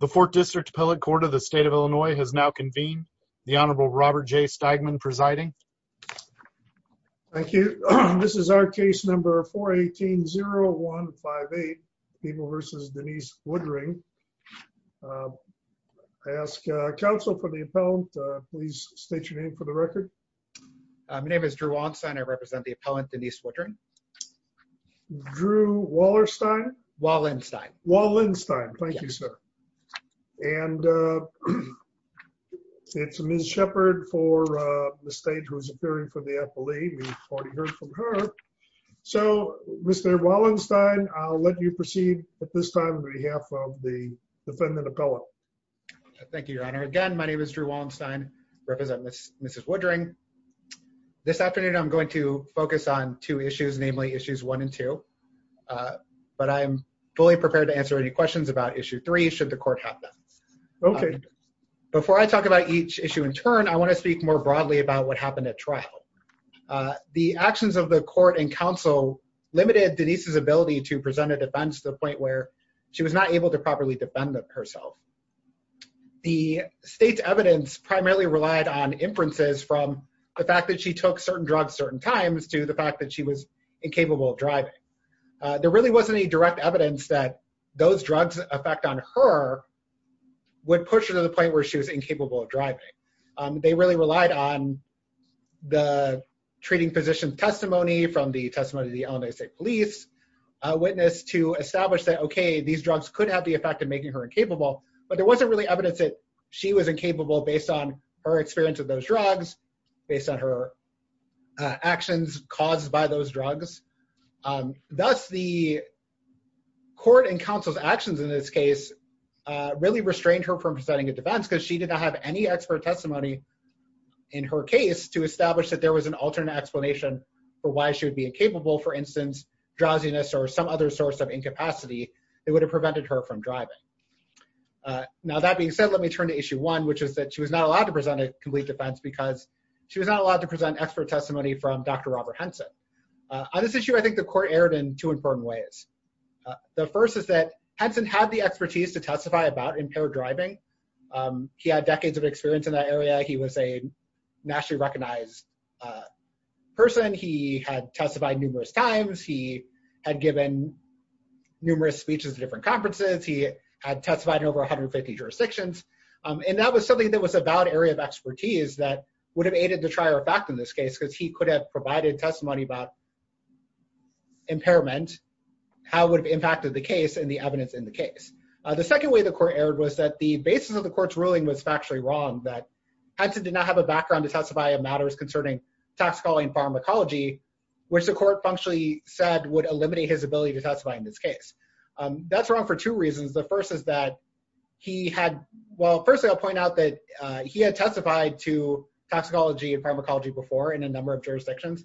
The 4th District Appellate Court of the State of Illinois has now convened. The Honorable Robert J. Stigman presiding. Thank you. This is our case number 418-0158. People v. Denise Woodring. I ask counsel for the appellant. Please state your name for the record. My name is Drew Wallenstein. I represent the appellant, Denise Woodring. Drew Wallerstein? Wallenstein. Wallenstein. Thank you, sir. And it's Ms. Shepard for the state who is appearing for the appellee. We've already heard from her. So, Mr. Wallenstein, I'll let you proceed at this time on behalf of the defendant appellant. Thank you, Your Honor. Again, my name is Drew Wallenstein. I represent Mrs. Woodring. This afternoon, I'm going to focus on two issues, namely issues 1 and 2. But I'm fully prepared to answer any questions about issue 3 should the court have them. Okay. Before I talk about each issue in turn, I want to speak more broadly about what happened at trial. The actions of the court and counsel limited Denise's ability to present a defense to the point where she was not able to properly defend herself. The state's evidence primarily relied on inferences from the fact that she took certain drugs certain times to the fact that she was incapable of driving. There really wasn't any direct evidence that those drugs' effect on her would push her to the point where she was incapable of driving. They really relied on the treating physician's testimony from the testimony of the Illinois State Police witness to establish that, okay, these drugs could have the effect of making her incapable. But there wasn't really evidence that she was incapable based on her experience with those drugs, based on her actions caused by those drugs. Thus, the court and counsel's actions in this case really restrained her from presenting a defense because she did not have any expert testimony in her case to establish that there was an alternate explanation for why she would be incapable. For instance, drowsiness or some other source of incapacity that would have prevented her from driving. Now, that being said, let me turn to issue 1, which is that she was not allowed to present a complete defense because she was not allowed to present expert testimony from Dr. Robert Henson. On this issue, I think the court erred in two important ways. The first is that Henson had the expertise to testify about impaired driving. He had decades of experience in that area. He was a nationally recognized person. He had testified numerous times. He had given numerous speeches at different conferences. He had testified in over 150 jurisdictions. And that was something that was a valid area of expertise that would have aided the trier of fact in this case because he could have provided testimony about impairment, how it would have impacted the case and the evidence in the case. The second way the court erred was that the basis of the court's ruling was factually wrong, that Henson did not have a background to testify on matters concerning toxicology and pharmacology, which the court functionally said would eliminate his ability to testify in this case. That's wrong for two reasons. The first is that he had, well, first I'll point out that he had testified to toxicology and pharmacology before in a number of jurisdictions.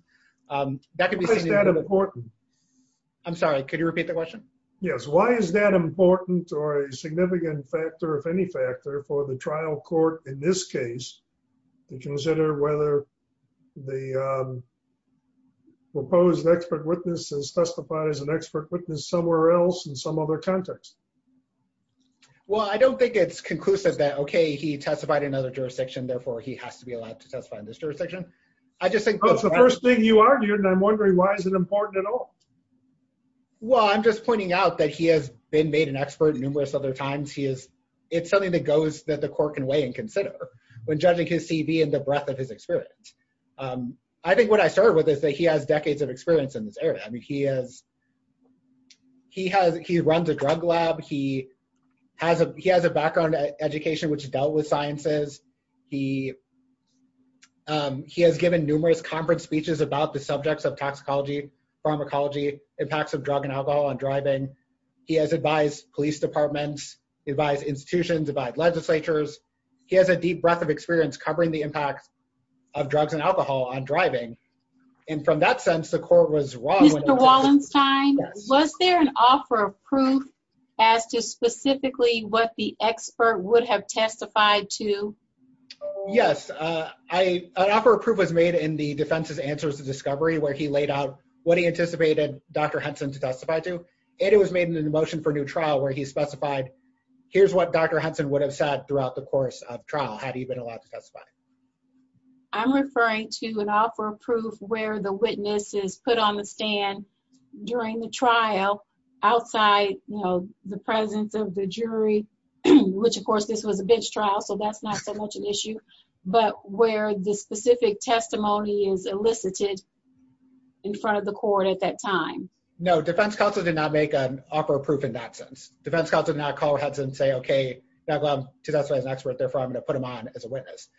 That could be seen as important. I'm sorry, could you repeat the question? Yes, why is that important or a significant factor, if any factor, for the trial court in this case to consider whether the proposed expert witnesses testified as an expert witness somewhere else in some other context? Well, I don't think it's conclusive that okay, he testified in another jurisdiction, therefore he has to be allowed to testify in this jurisdiction. I just think that's the first thing you argued and I'm wondering why is it important at all? Well, I'm just pointing out that he has been made an expert numerous other times. It's something that goes that the court can weigh and consider when judging his CV and the breadth of his experience. I think what I started with is that he has decades of experience in this area. He runs a drug lab. He has a background in education which dealt with sciences. He has given numerous conference speeches about the subjects of toxicology, pharmacology, impacts of drug and alcohol on driving. He has advised police departments, advised institutions, advised legislatures. He has a deep breadth of experience covering the impacts of drugs and alcohol on driving. And from that sense, the court was wrong. Mr. Wallenstein, was there an offer of proof as to specifically what the expert would have testified to? Yes, an offer of proof was made in the defense's answers to discovery where he laid out what he anticipated Dr. Henson to testify to. And it was made in the motion for new trial where he specified here's what Dr. Henson would have said throughout the course of trial had he been allowed to testify. I'm referring to an offer of proof where the witness is put on the stand during the trial outside the presence of the jury, which of course this was a bench trial so that's not so much an issue, but where the specific testimony is elicited in front of the court at that time. No, defense counsel did not make an offer of proof in that sense. Defense counsel did not call Henson and say, okay, I'm going to put him on as a witness.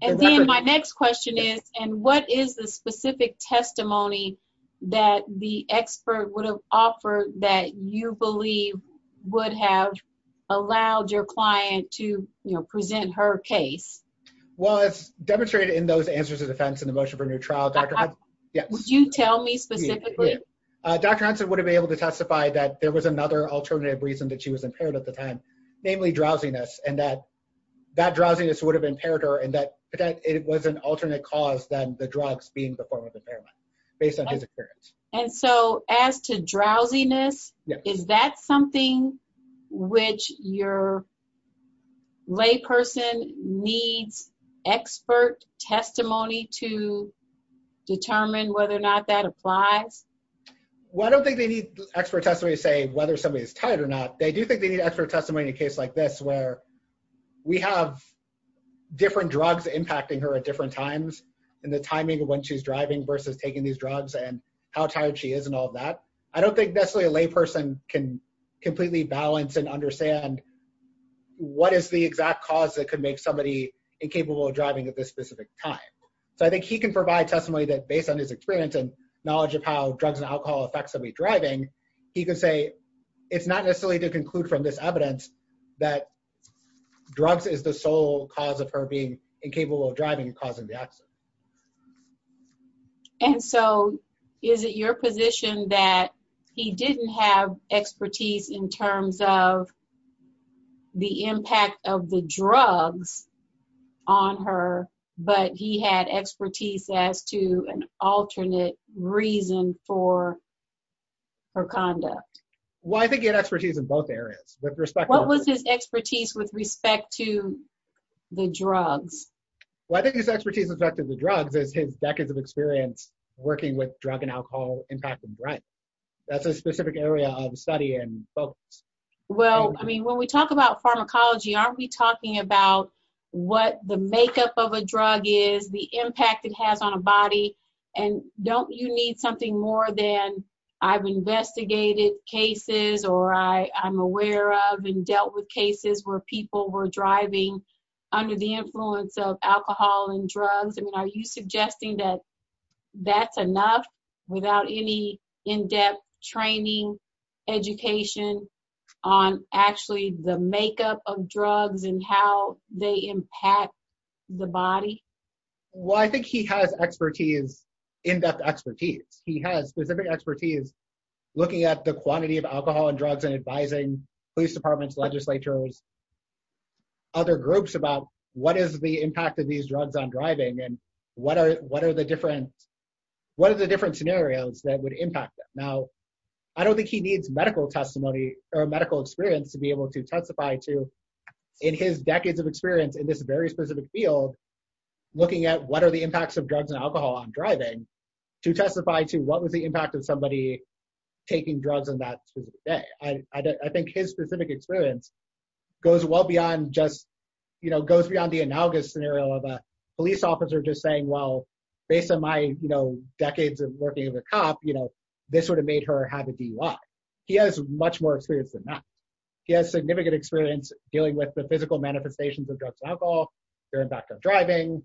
And then my next question is, and what is the specific testimony that the expert would have offered that you believe would have allowed your client to present her case? Well, it's demonstrated in those answers to defense in the motion for new trial. Would you tell me specifically? Dr. Henson would have been able to testify that there was another alternative reason that she was impaired at the time, namely drowsiness and that drowsiness would have impaired her and that it was an alternate cause than the drugs being the form of impairment based on his experience. And so as to drowsiness, is that something which your lay person needs expert testimony to determine whether or not that applies? Well, I don't think they need expert testimony to say whether somebody is tired or not. They do think they need expert testimony in a case like this where we have different drugs impacting her at different times and the timing of when she's driving versus taking these drugs and how tired she is and all of that. I don't think necessarily a lay person can completely balance and understand what is the exact cause that could make somebody incapable of driving at this specific time. So I think he can provide testimony that based on his experience and knowledge of how drugs and alcohol affects somebody driving, he could say it's not necessarily to conclude from this evidence that drugs is the sole cause of her being incapable of driving causing the accident. And so is it your position that he didn't have expertise in terms of the impact of the drugs on her, but he had expertise as to an alternate reason for her conduct? Well, I think he had expertise in both areas. What was his expertise with respect to the drugs? Well, I think his expertise with respect to the drugs is his decades of experience working with drug and alcohol impact and threat. That's a specific area of study and focus. Well, I mean, when we talk about pharmacology, aren't we talking about what the makeup of a drug is, the impact it has on a body, and don't you need something more than I've investigated cases or I'm aware of and dealt with cases where people were driving under the influence of alcohol and drugs? I mean, are you suggesting that that's enough without any in-depth training, education on actually the makeup of drugs and how they impact the body? Well, I think he has expertise, in-depth expertise. He has specific expertise looking at the quantity of alcohol and drugs and advising police departments, legislators, other groups about what is the impact of these drugs on driving and what are the different scenarios that would impact them? Now, I don't think he needs medical testimony or medical experience to be able to testify to, in his decades of experience in this very specific field, looking at what are the impacts of drugs and alcohol on driving to testify to what was the impact of somebody taking drugs on that specific day? I think his specific experience goes well beyond just, you know, goes beyond the analogous scenario of a police officer just saying, well, based on my, you know, decades of working as a cop, you know, this would have made her have a DUI. He has much more experience than that. He has significant experience dealing with the physical manifestations of drugs and alcohol, their impact on driving.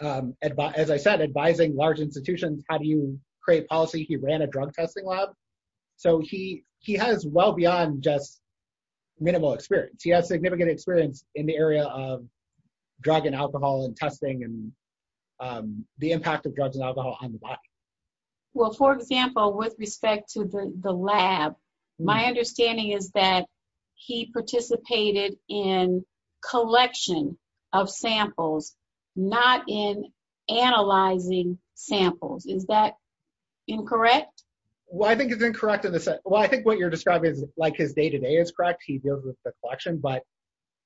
As I said, advising large institutions, how do you create policy? He ran a drug testing lab. So he has well beyond just minimal experience. He has significant experience in the area of drug and alcohol and testing and the impact of drugs and alcohol on the body. Well, for example, with respect to the lab, my understanding is that he participated in collection of samples, not in analyzing samples. Is that incorrect? Well, I think it's incorrect in the sense, well, I think what you're describing is like his day-to-day is correct. He deals with the collection, but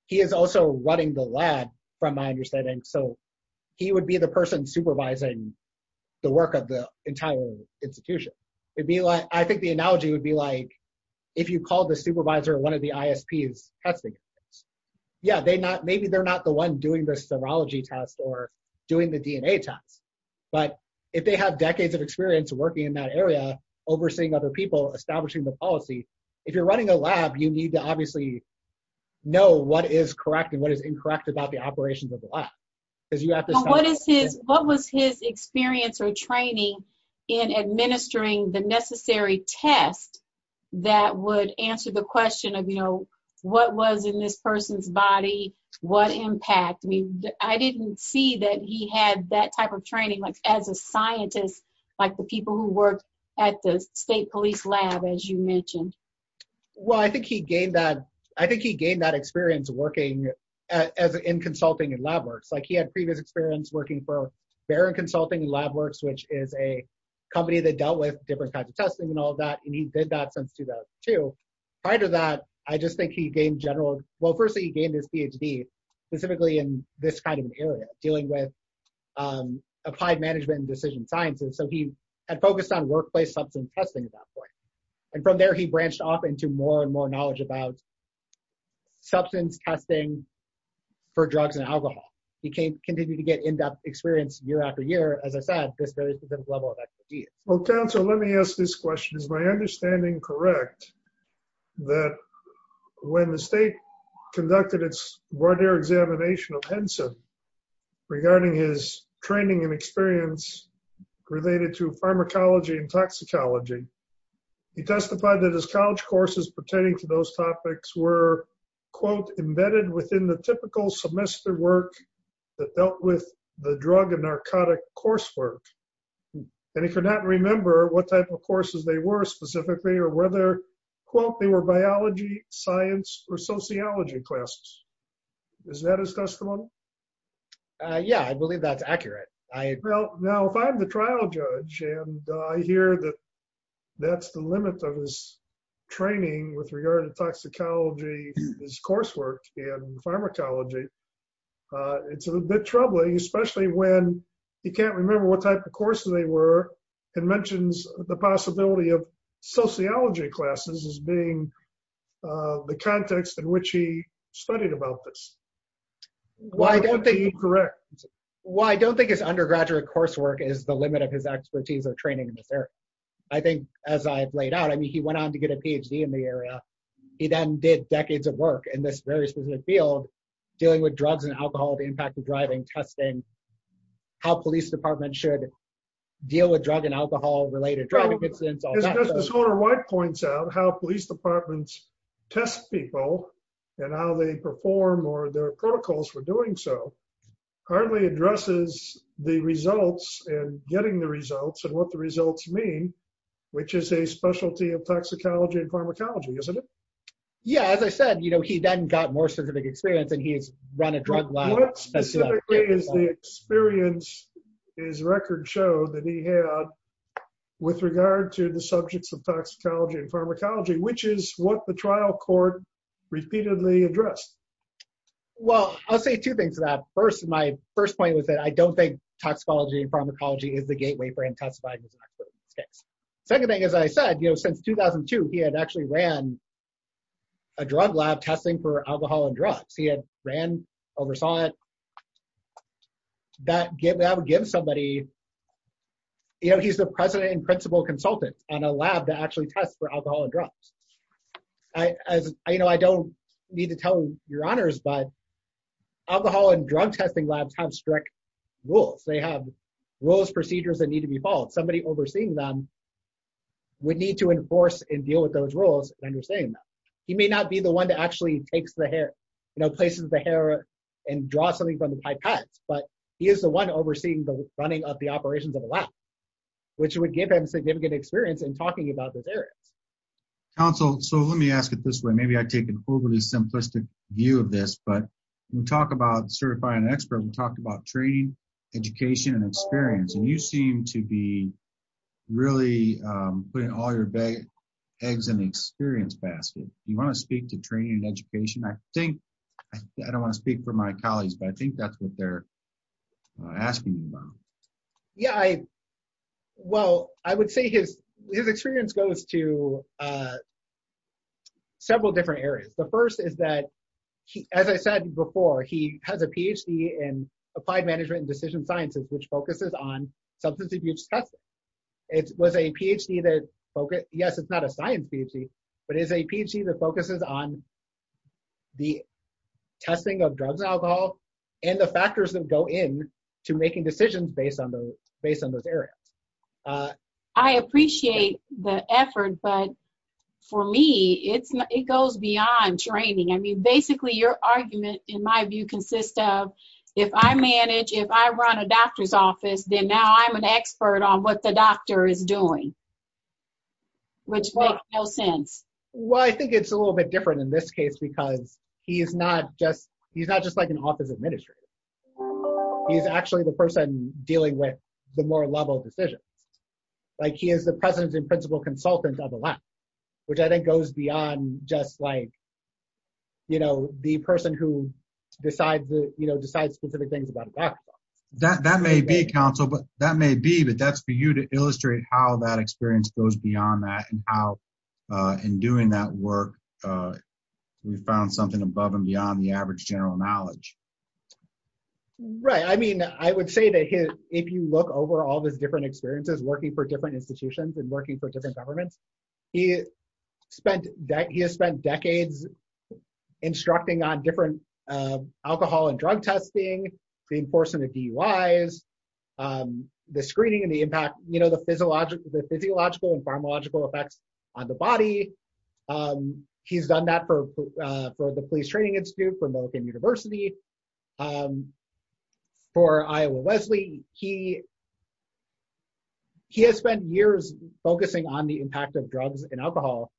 he is also running the lab from my understanding. So he would be the person supervising the work of the entire institution. It'd be like, I think the analogy would be like, if you call the supervisor, one of the ISPs testing. Yeah, they not, maybe they're not the one doing the serology test or doing the DNA test. But if they have decades of experience working in that area, overseeing other people, establishing the policy. If you're running a lab, you need to obviously know what is correct and what is incorrect about the operations of the lab. What was his experience or training in administering the necessary test that would answer the question of, you know, what was in this person's body? What impact? I mean, I didn't see that he had that type of training, like as a scientist, like the people who worked at the state police lab, as you mentioned. Well, I think he gained that, I think he gained that experience working in consulting and lab works. Like he had previous experience working for Barron Consulting and Lab Works, which is a company that dealt with different kinds of testing and all that. And he did that since 2002. Prior to that, I just think he gained general. Well, firstly, he gained his PhD, specifically in this kind of area, dealing with applied management and decision science. And so he had focused on workplace substance testing at that point. And from there, he branched off into more and more knowledge about substance testing for drugs and alcohol. He continued to get in-depth experience year after year. As I said, this very specific level of expertise. Well, Counselor, let me ask this question. Is my understanding correct that when the state conducted its Warder Examination of Henson, regarding his training and experience related to pharmacology and toxicology, he testified that his college courses pertaining to those topics were, quote, he can't remember what type of courses they were specifically or whether, quote, they were biology, science, or sociology classes. Is that his testimony? Yeah, I believe that's accurate. Well, now, if I'm the trial judge and I hear that that's the limit of his training with regard to toxicology, his coursework in pharmacology, it's a bit troubling, especially when he can't remember what type of courses they were and mentions the possibility of sociology classes as being the context in which he studied about this. Why is that incorrect? Well, I don't think his undergraduate coursework is the limit of his expertise or training in this area. I think, as I've laid out, I mean, he went on to get a PhD in the area. He then did decades of work in this very specific field, dealing with drugs and alcohol, the impact of driving, testing, how police departments should deal with drug and alcohol-related driving incidents. As Justice Warner-White points out, how police departments test people and how they perform or their protocols for doing so hardly addresses the results and getting the results and what the results mean, which is a specialty of toxicology and pharmacology, isn't it? Yeah, as I said, you know, he then got more scientific experience and he's run a drug lab. What specifically is the experience his record showed that he had with regard to the subjects of toxicology and pharmacology, which is what the trial court repeatedly addressed? Well, I'll say two things to that. First, my first point was that I don't think toxicology and pharmacology is the gateway for him to testify in this case. Second thing, as I said, you know, since 2002, he had actually ran a drug lab testing for alcohol and drugs. He had ran, oversaw it, that would give somebody, you know, he's the president and principal consultant on a lab that actually tests for alcohol and drugs. You know, I don't need to tell your honors, but alcohol and drug testing labs have strict rules. They have rules, procedures that need to be followed. Somebody overseeing them would need to enforce and deal with those rules and understand them. He may not be the one that actually takes the hair, you know, places the hair and draws something from the pipettes, but he is the one overseeing the running of the operations of the lab, which would give him significant experience in talking about those areas. Counsel, so let me ask it this way. Maybe I take an overly simplistic view of this, but when we talk about certifying an expert, we talk about training, education, and experience. And you seem to be really putting all your eggs in the experience basket. Do you want to speak to training and education? I think, I don't want to speak for my colleagues, but I think that's what they're asking you about. Yeah, well, I would say his experience goes to several different areas. The first is that, as I said before, he has a Ph.D. in applied management and decision sciences, which focuses on substance abuse testing. It was a Ph.D. that, yes, it's not a science Ph.D., but it's a Ph.D. that focuses on the testing of drugs and alcohol and the factors that go in to making decisions based on those areas. I appreciate the effort, but for me, it goes beyond training. I mean, basically, your argument, in my view, consists of, if I manage, if I run a doctor's office, then now I'm an expert on what the doctor is doing, which makes no sense. Well, I think it's a little bit different in this case because he's not just like an office administrator. He's actually the person dealing with the more level decisions. Like, he is the president and principal consultant on the left, which I think goes beyond just like, you know, the person who decides specific things about a doctor. That may be, counsel, but that may be, but that's for you to illustrate how that experience goes beyond that and how, in doing that work, we found something above and beyond the average general knowledge. Right. I mean, I would say that if you look over all of his different experiences working for different institutions and working for different governments, he has spent decades instructing on different alcohol and drug testing, the enforcement of DUIs, the screening and the impact, you know, the physiological and pharmacological effects on the body. He's done that for the Police Training Institute, for Millicent University, for Iowa Wesley. He has spent years focusing on the impact of drugs and alcohol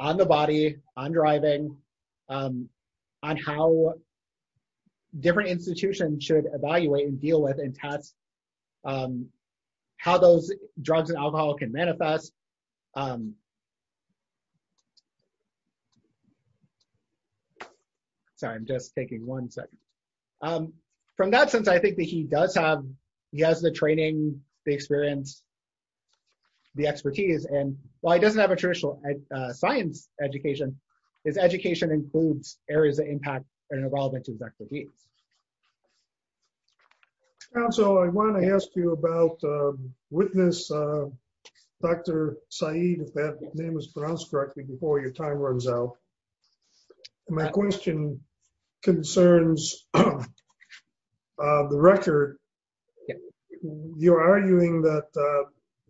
on the body, on driving, on how different institutions should evaluate and deal with and test how those drugs and alcohol can manifest. Sorry, I'm just taking one second. From that sense, I think that he does have, he has the training, the experience, the expertise, and while he doesn't have a traditional science education, his education includes areas that impact and are relevant to his expertise. Counsel, I want to ask you about witness, Dr. Saeed, if that name is pronounced correctly before your time runs out. My question concerns the record. You're arguing that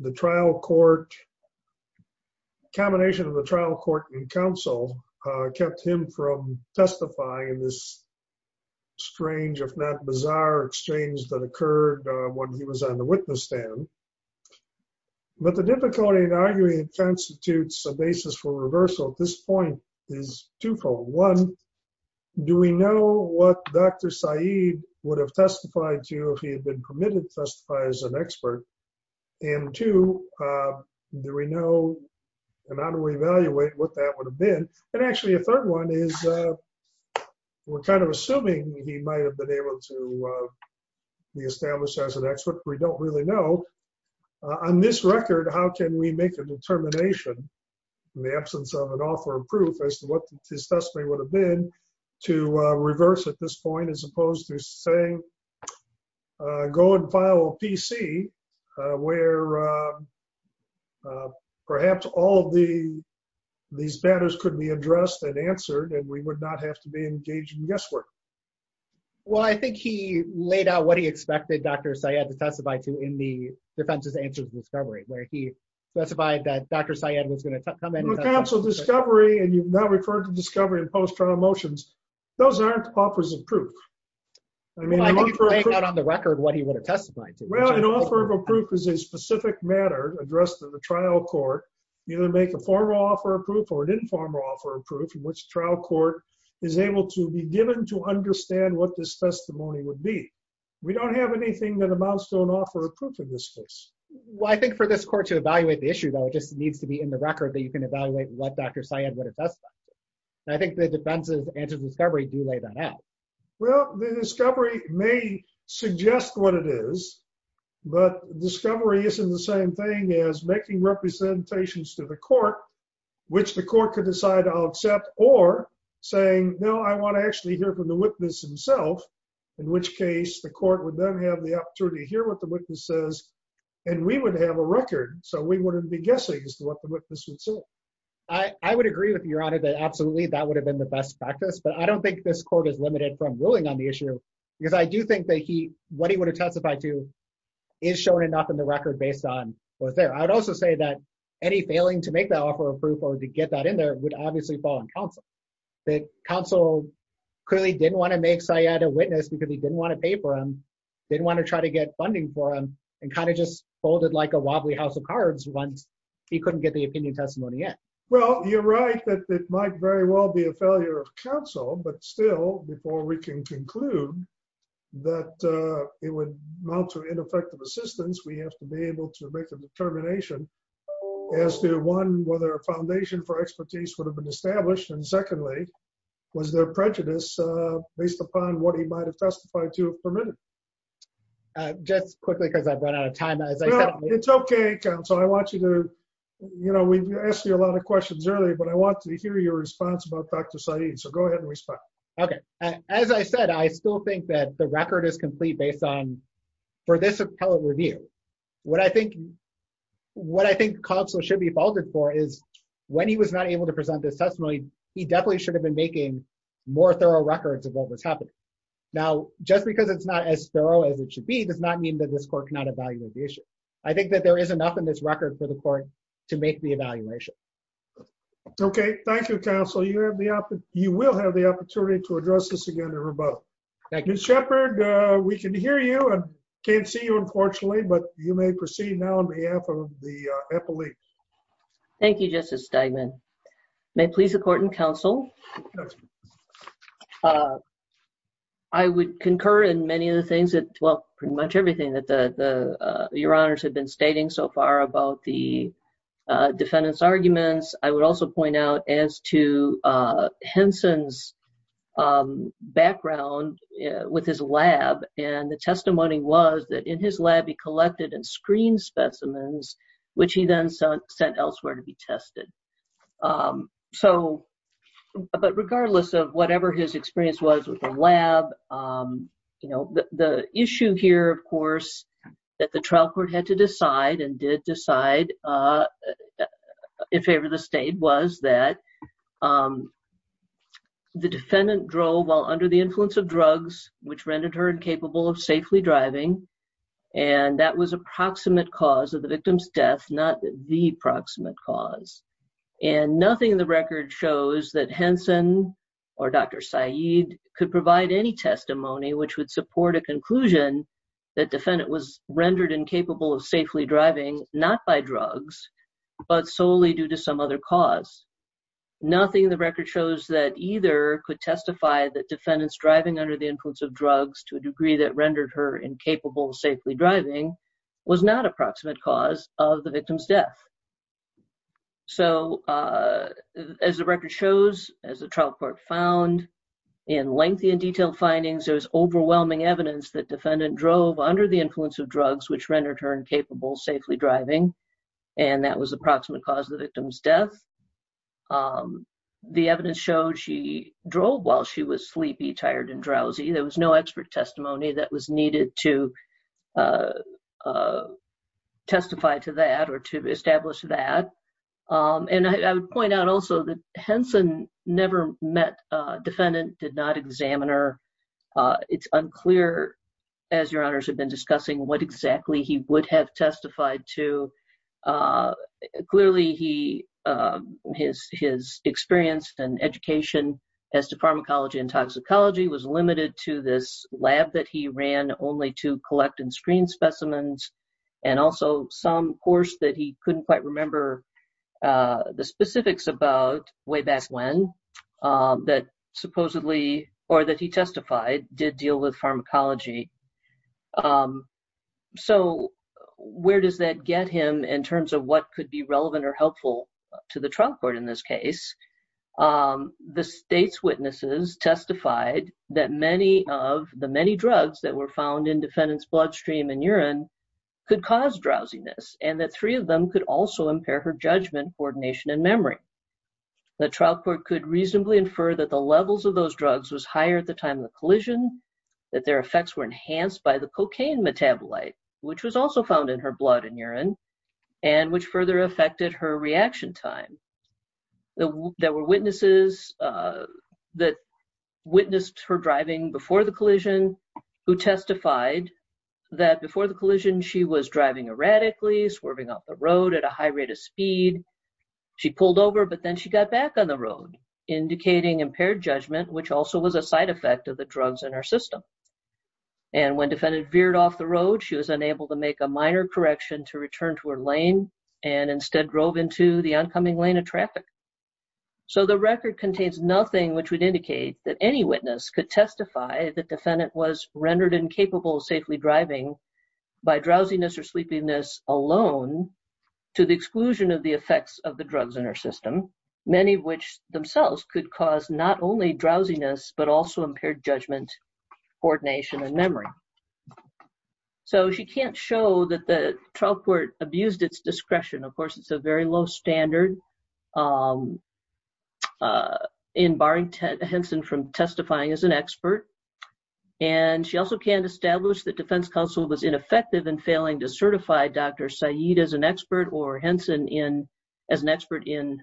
the trial court, combination of the trial court and counsel kept him from testifying in this strange, if not bizarre, exchange that occurred when he was on the witness stand. But the difficulty in arguing constitutes a basis for reversal at this point is twofold. One, do we know what Dr. Saeed would have testified to if he had been permitted to testify as an expert? And two, do we know and how do we evaluate what that would have been? And actually a third one is, we're kind of assuming he might have been able to be established as an expert, we don't really know. On this record, how can we make a determination in the absence of an offer of proof as to what his testimony would have been to reverse at this point, as opposed to saying, go and file a PC where perhaps all of these matters could be addressed and answered and we would not have to be engaged in guesswork? Well, I think he laid out what he expected Dr. Saeed to testify to in the defense's answer to discovery, where he specified that Dr. Saeed was going to come in and testify. Counsel, discovery, and you've now referred to discovery in post-trial motions, those aren't offers of proof. I think he's laying out on the record what he would have testified to. Well, an offer of proof is a specific matter addressed to the trial court, either make a formal offer of proof or an informal offer of proof in which trial court is able to be given to understand what this testimony would be. We don't have anything that amounts to an offer of proof in this case. Well, I think for this court to evaluate the issue, though, it just needs to be in the record that you can evaluate what Dr. Saeed would have testified to. And I think the defense's answer to discovery do lay that out. Well, the discovery may suggest what it is, but discovery isn't the same thing as making representations to the court, which the court could decide I'll accept, or saying, no, I want to actually hear from the witness himself. In which case, the court would then have the opportunity to hear what the witness says, and we would have a record. So we wouldn't be guessing as to what the witness would say. I would agree with you, Your Honor, that absolutely that would have been the best practice. But I don't think this court is limited from ruling on the issue, because I do think that what he would have testified to is shown enough in the record based on what's there. I would also say that any failing to make that offer of proof or to get that in there would obviously fall on counsel. Counsel clearly didn't want to make Saeed a witness because he didn't want to pay for him, didn't want to try to get funding for him, and kind of just folded like a wobbly house of cards once he couldn't get the opinion testimony yet. Well, you're right that it might very well be a failure of counsel, but still, before we can conclude that it would amount to ineffective assistance, we have to be able to make a determination as to, one, whether a foundation for expertise would have been established, and secondly, was there prejudice based upon what he might have testified to have permitted. Just quickly, because I've run out of time. It's okay, counsel. I want you to, you know, we asked you a lot of questions earlier, but I want to hear your response about Dr. Saeed, so go ahead and respond. Okay. As I said, I still think that the record is complete based on for this appellate review. What I think counsel should be faulted for is when he was not able to present this testimony, he definitely should have been making more thorough records of what was happening. Now, just because it's not as thorough as it should be does not mean that this court cannot evaluate the issue. I think that there is enough in this record for the court to make the evaluation. Okay, thank you, counsel. You will have the opportunity to address this again in rebuttal. Thank you. Ms. Shepard, we can hear you and can't see you, unfortunately, but you may proceed now on behalf of the appellate. Thank you, Justice Steigman. May it please the court and counsel. I would concur in many of the things that, well, pretty much everything that your honors have been stating so far about the defendant's arguments. I would also point out as to Henson's background with his lab and the testimony was that in his lab he collected and screened specimens, which he then sent elsewhere to be tested. So, but regardless of whatever his experience was with the lab, you know, the issue here, of course, that the trial court had to decide and did decide in favor of the state was that the defendant drove while under the influence of drugs, which rendered her incapable of safely driving. And that was a proximate cause of the victim's death, not the proximate cause. And nothing in the record shows that Henson or Dr. Saeed could provide any testimony which would support a conclusion that defendant was rendered incapable of safely driving, not by drugs, but solely due to some other cause. Nothing in the record shows that either could testify that defendants driving under the influence of drugs to a degree that rendered her incapable of safely driving was not a proximate cause of the victim's death. So, as the record shows, as the trial court found in lengthy and detailed findings, there was overwhelming evidence that defendant drove under the influence of drugs, which rendered her incapable of safely driving, and that was approximate cause of the victim's death. The evidence showed she drove while she was sleepy, tired, and drowsy. There was no expert testimony that was needed to testify to that or to establish that. And I would point out also that Henson never met defendant, did not examine her. It's unclear, as your honors have been discussing, what exactly he would have testified to. Clearly, his experience and education as to pharmacology and toxicology was limited to this lab that he ran only to collect and screen specimens, and also some course that he couldn't quite remember the specifics about way back when that supposedly, or that he testified, did deal with pharmacology. So, where does that get him in terms of what could be relevant or helpful to the trial court in this case? The state's witnesses testified that many of the many drugs that were found in defendant's bloodstream and urine could cause drowsiness, and that three of them could also impair her judgment, coordination, and memory. The trial court could reasonably infer that the levels of those drugs was higher at the time of the collision, that their effects were enhanced by the cocaine metabolite, which was also found in her blood and urine, and which further affected her reaction time. There were witnesses that witnessed her driving before the collision who testified that before the collision, she was driving erratically, swerving off the road at a high rate of speed. She pulled over, but then she got back on the road, indicating impaired judgment, which also was a side effect of the drugs in her system. And when defendant veered off the road, she was unable to make a minor correction to return to her lane and instead drove into the oncoming lane of traffic. So, the record contains nothing which would indicate that any witness could testify that defendant was rendered incapable of safely driving by drowsiness or sleepiness alone, to the exclusion of the effects of the drugs in her system, many of which themselves could cause not only drowsiness, but also impaired judgment, coordination, and memory. So, she can't show that the trial court abused its discretion. Of course, it's a very low standard in barring Henson from testifying as an expert. And she also can't establish that defense counsel was ineffective in failing to certify Dr. Said as an expert or Henson as an expert in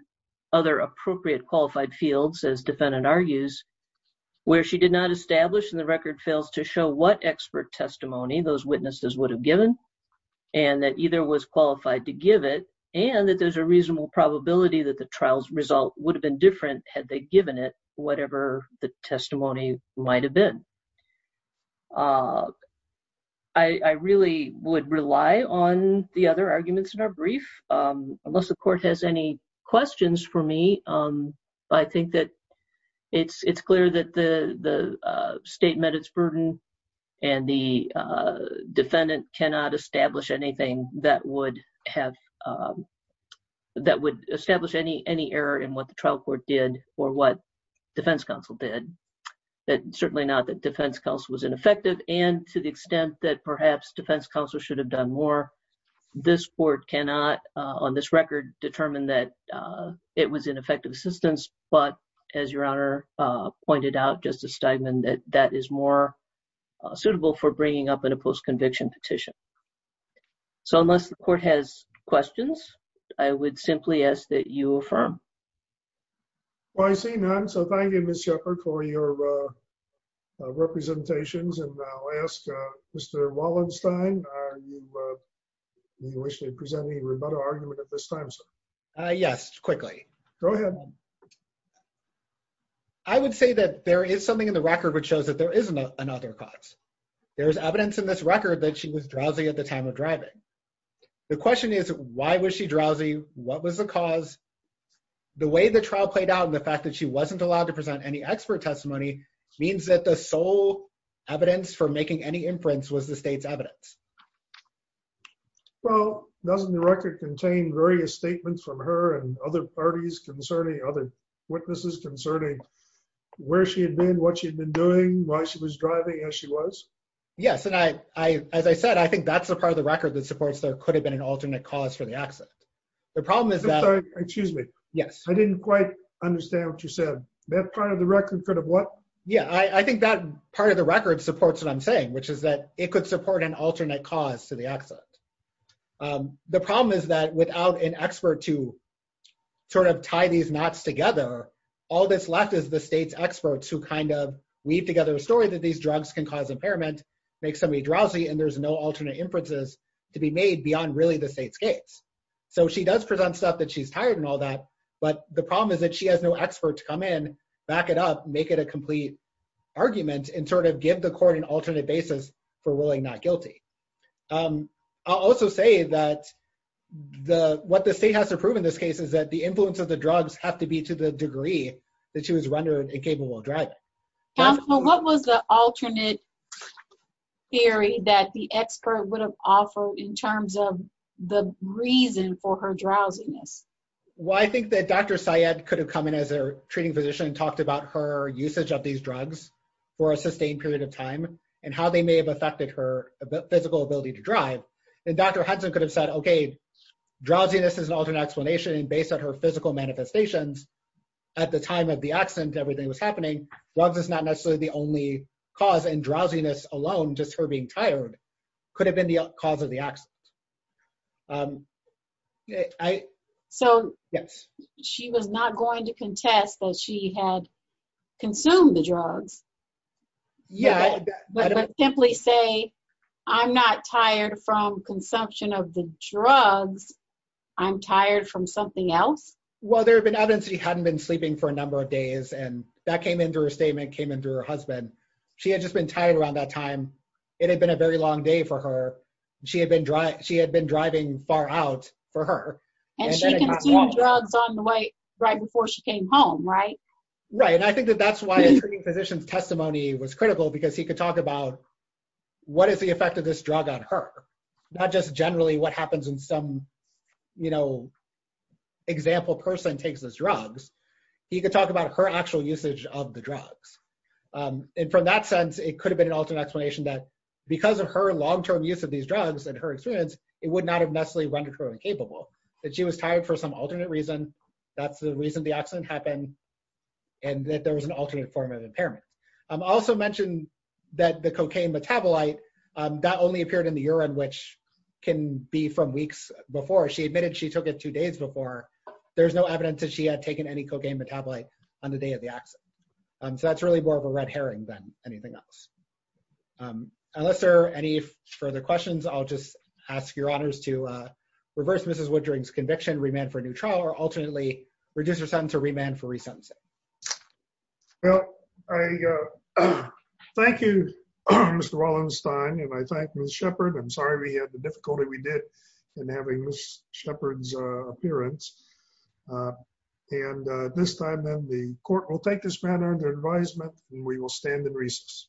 other appropriate qualified fields, as defendant argues, where she did not establish and the record fails to show what expert testimony those witnesses would have given, and that either was qualified to give it, and that there's a reasonable probability that the trial's result would have been different had they given it, whatever the testimony might have been. I really would rely on the other arguments in our brief, unless the court has any questions for me. I think that it's clear that the state met its burden, and the defendant cannot establish anything that would have, that would establish any error in what the trial court did or what defense counsel did. Certainly not that defense counsel was ineffective, and to the extent that perhaps defense counsel should have done more. This court cannot, on this record, determine that it was ineffective assistance, but as Your Honor pointed out, Justice Steigman, that that is more suitable for bringing up in a post-conviction petition. So, unless the court has questions, I would simply ask that you affirm. Well, I see none, so thank you, Ms. Shepherd, for your representations, and I'll ask Mr. Wallenstein, do you wish to present any rebuttal argument at this time, sir? Yes, quickly. Go ahead. I would say that there is something in the record which shows that there is another cause. There's evidence in this record that she was drowsy at the time of driving. The question is, why was she drowsy? What was the cause? The way the trial played out and the fact that she wasn't allowed to present any expert testimony means that the sole evidence for making any inference was the state's evidence. Well, doesn't the record contain various statements from her and other parties concerning, other witnesses concerning where she had been, what she had been doing, why she was driving, as she was? Yes, and as I said, I think that's the part of the record that supports there could have been an alternate cause for the accident. The problem is that— I'm sorry, excuse me. Yes. I didn't quite understand what you said. That part of the record could have what? Yeah, I think that part of the record supports what I'm saying, which is that it could support an alternate cause to the accident. The problem is that without an expert to sort of tie these knots together, all that's left is the state's experts who kind of weave together a story that these drugs can cause impairment, make somebody drowsy, and there's no alternate inferences to be made beyond really the state's case. So she does present stuff that she's tired and all that, but the problem is that she has no expert to come in, back it up, make it a complete argument, and sort of give the court an alternate basis for ruling not guilty. I'll also say that what the state has to prove in this case is that the influence of the drugs have to be to the degree that she was rendered incapable of driving. What was the alternate theory that the expert would have offered in terms of the reason for her drowsiness? Well, I think that Dr. Syed could have come in as her treating physician and talked about her usage of these drugs for a sustained period of time and how they may have affected her physical ability to drive. And Dr. Hudson could have said, okay, drowsiness is an alternate explanation based on her physical manifestations. At the time of the accident, everything was happening. Drugs is not necessarily the only cause, and drowsiness alone, just her being tired, could have been the cause of the accident. So she was not going to contest that she had consumed the drugs? Yeah. But simply say, I'm not tired from consumption of the drugs, I'm tired from something else? Well, there had been evidence that she hadn't been sleeping for a number of days, and that came in through her statement, came in through her husband. She had just been tired around that time. It had been a very long day for her. She had been driving far out for her. And she consumed drugs right before she came home, right? Right. And I think that that's why a treating physician's testimony was critical, because he could talk about what is the effect of this drug on her, not just generally what happens in some, you know, example person takes these drugs. He could talk about her actual usage of the drugs. And from that sense, it could have been an alternate explanation that because of her long-term use of these drugs and her experience, it would not have necessarily rendered her incapable, that she was tired for some alternate reason. That's the reason the accident happened, and that there was an alternate form of impairment. I also mentioned that the cocaine metabolite, that only appeared in the urine, which can be from weeks before. She admitted she took it two days before. There's no evidence that she had taken any cocaine metabolite on the day of the accident. So that's really more of a red herring than anything else. Unless there are any further questions, I'll just ask your honors to reverse Mrs. Woodring's conviction, remand for a new trial, or alternately, reduce her sentence to remand for resentencing. Well, I thank you, Mr. Wallenstein, and I thank Ms. Shepard. I'm sorry we had the difficulty we did in having Ms. Shepard's appearance. And this time, then, the court will take this matter under advisement, and we will stand in recess.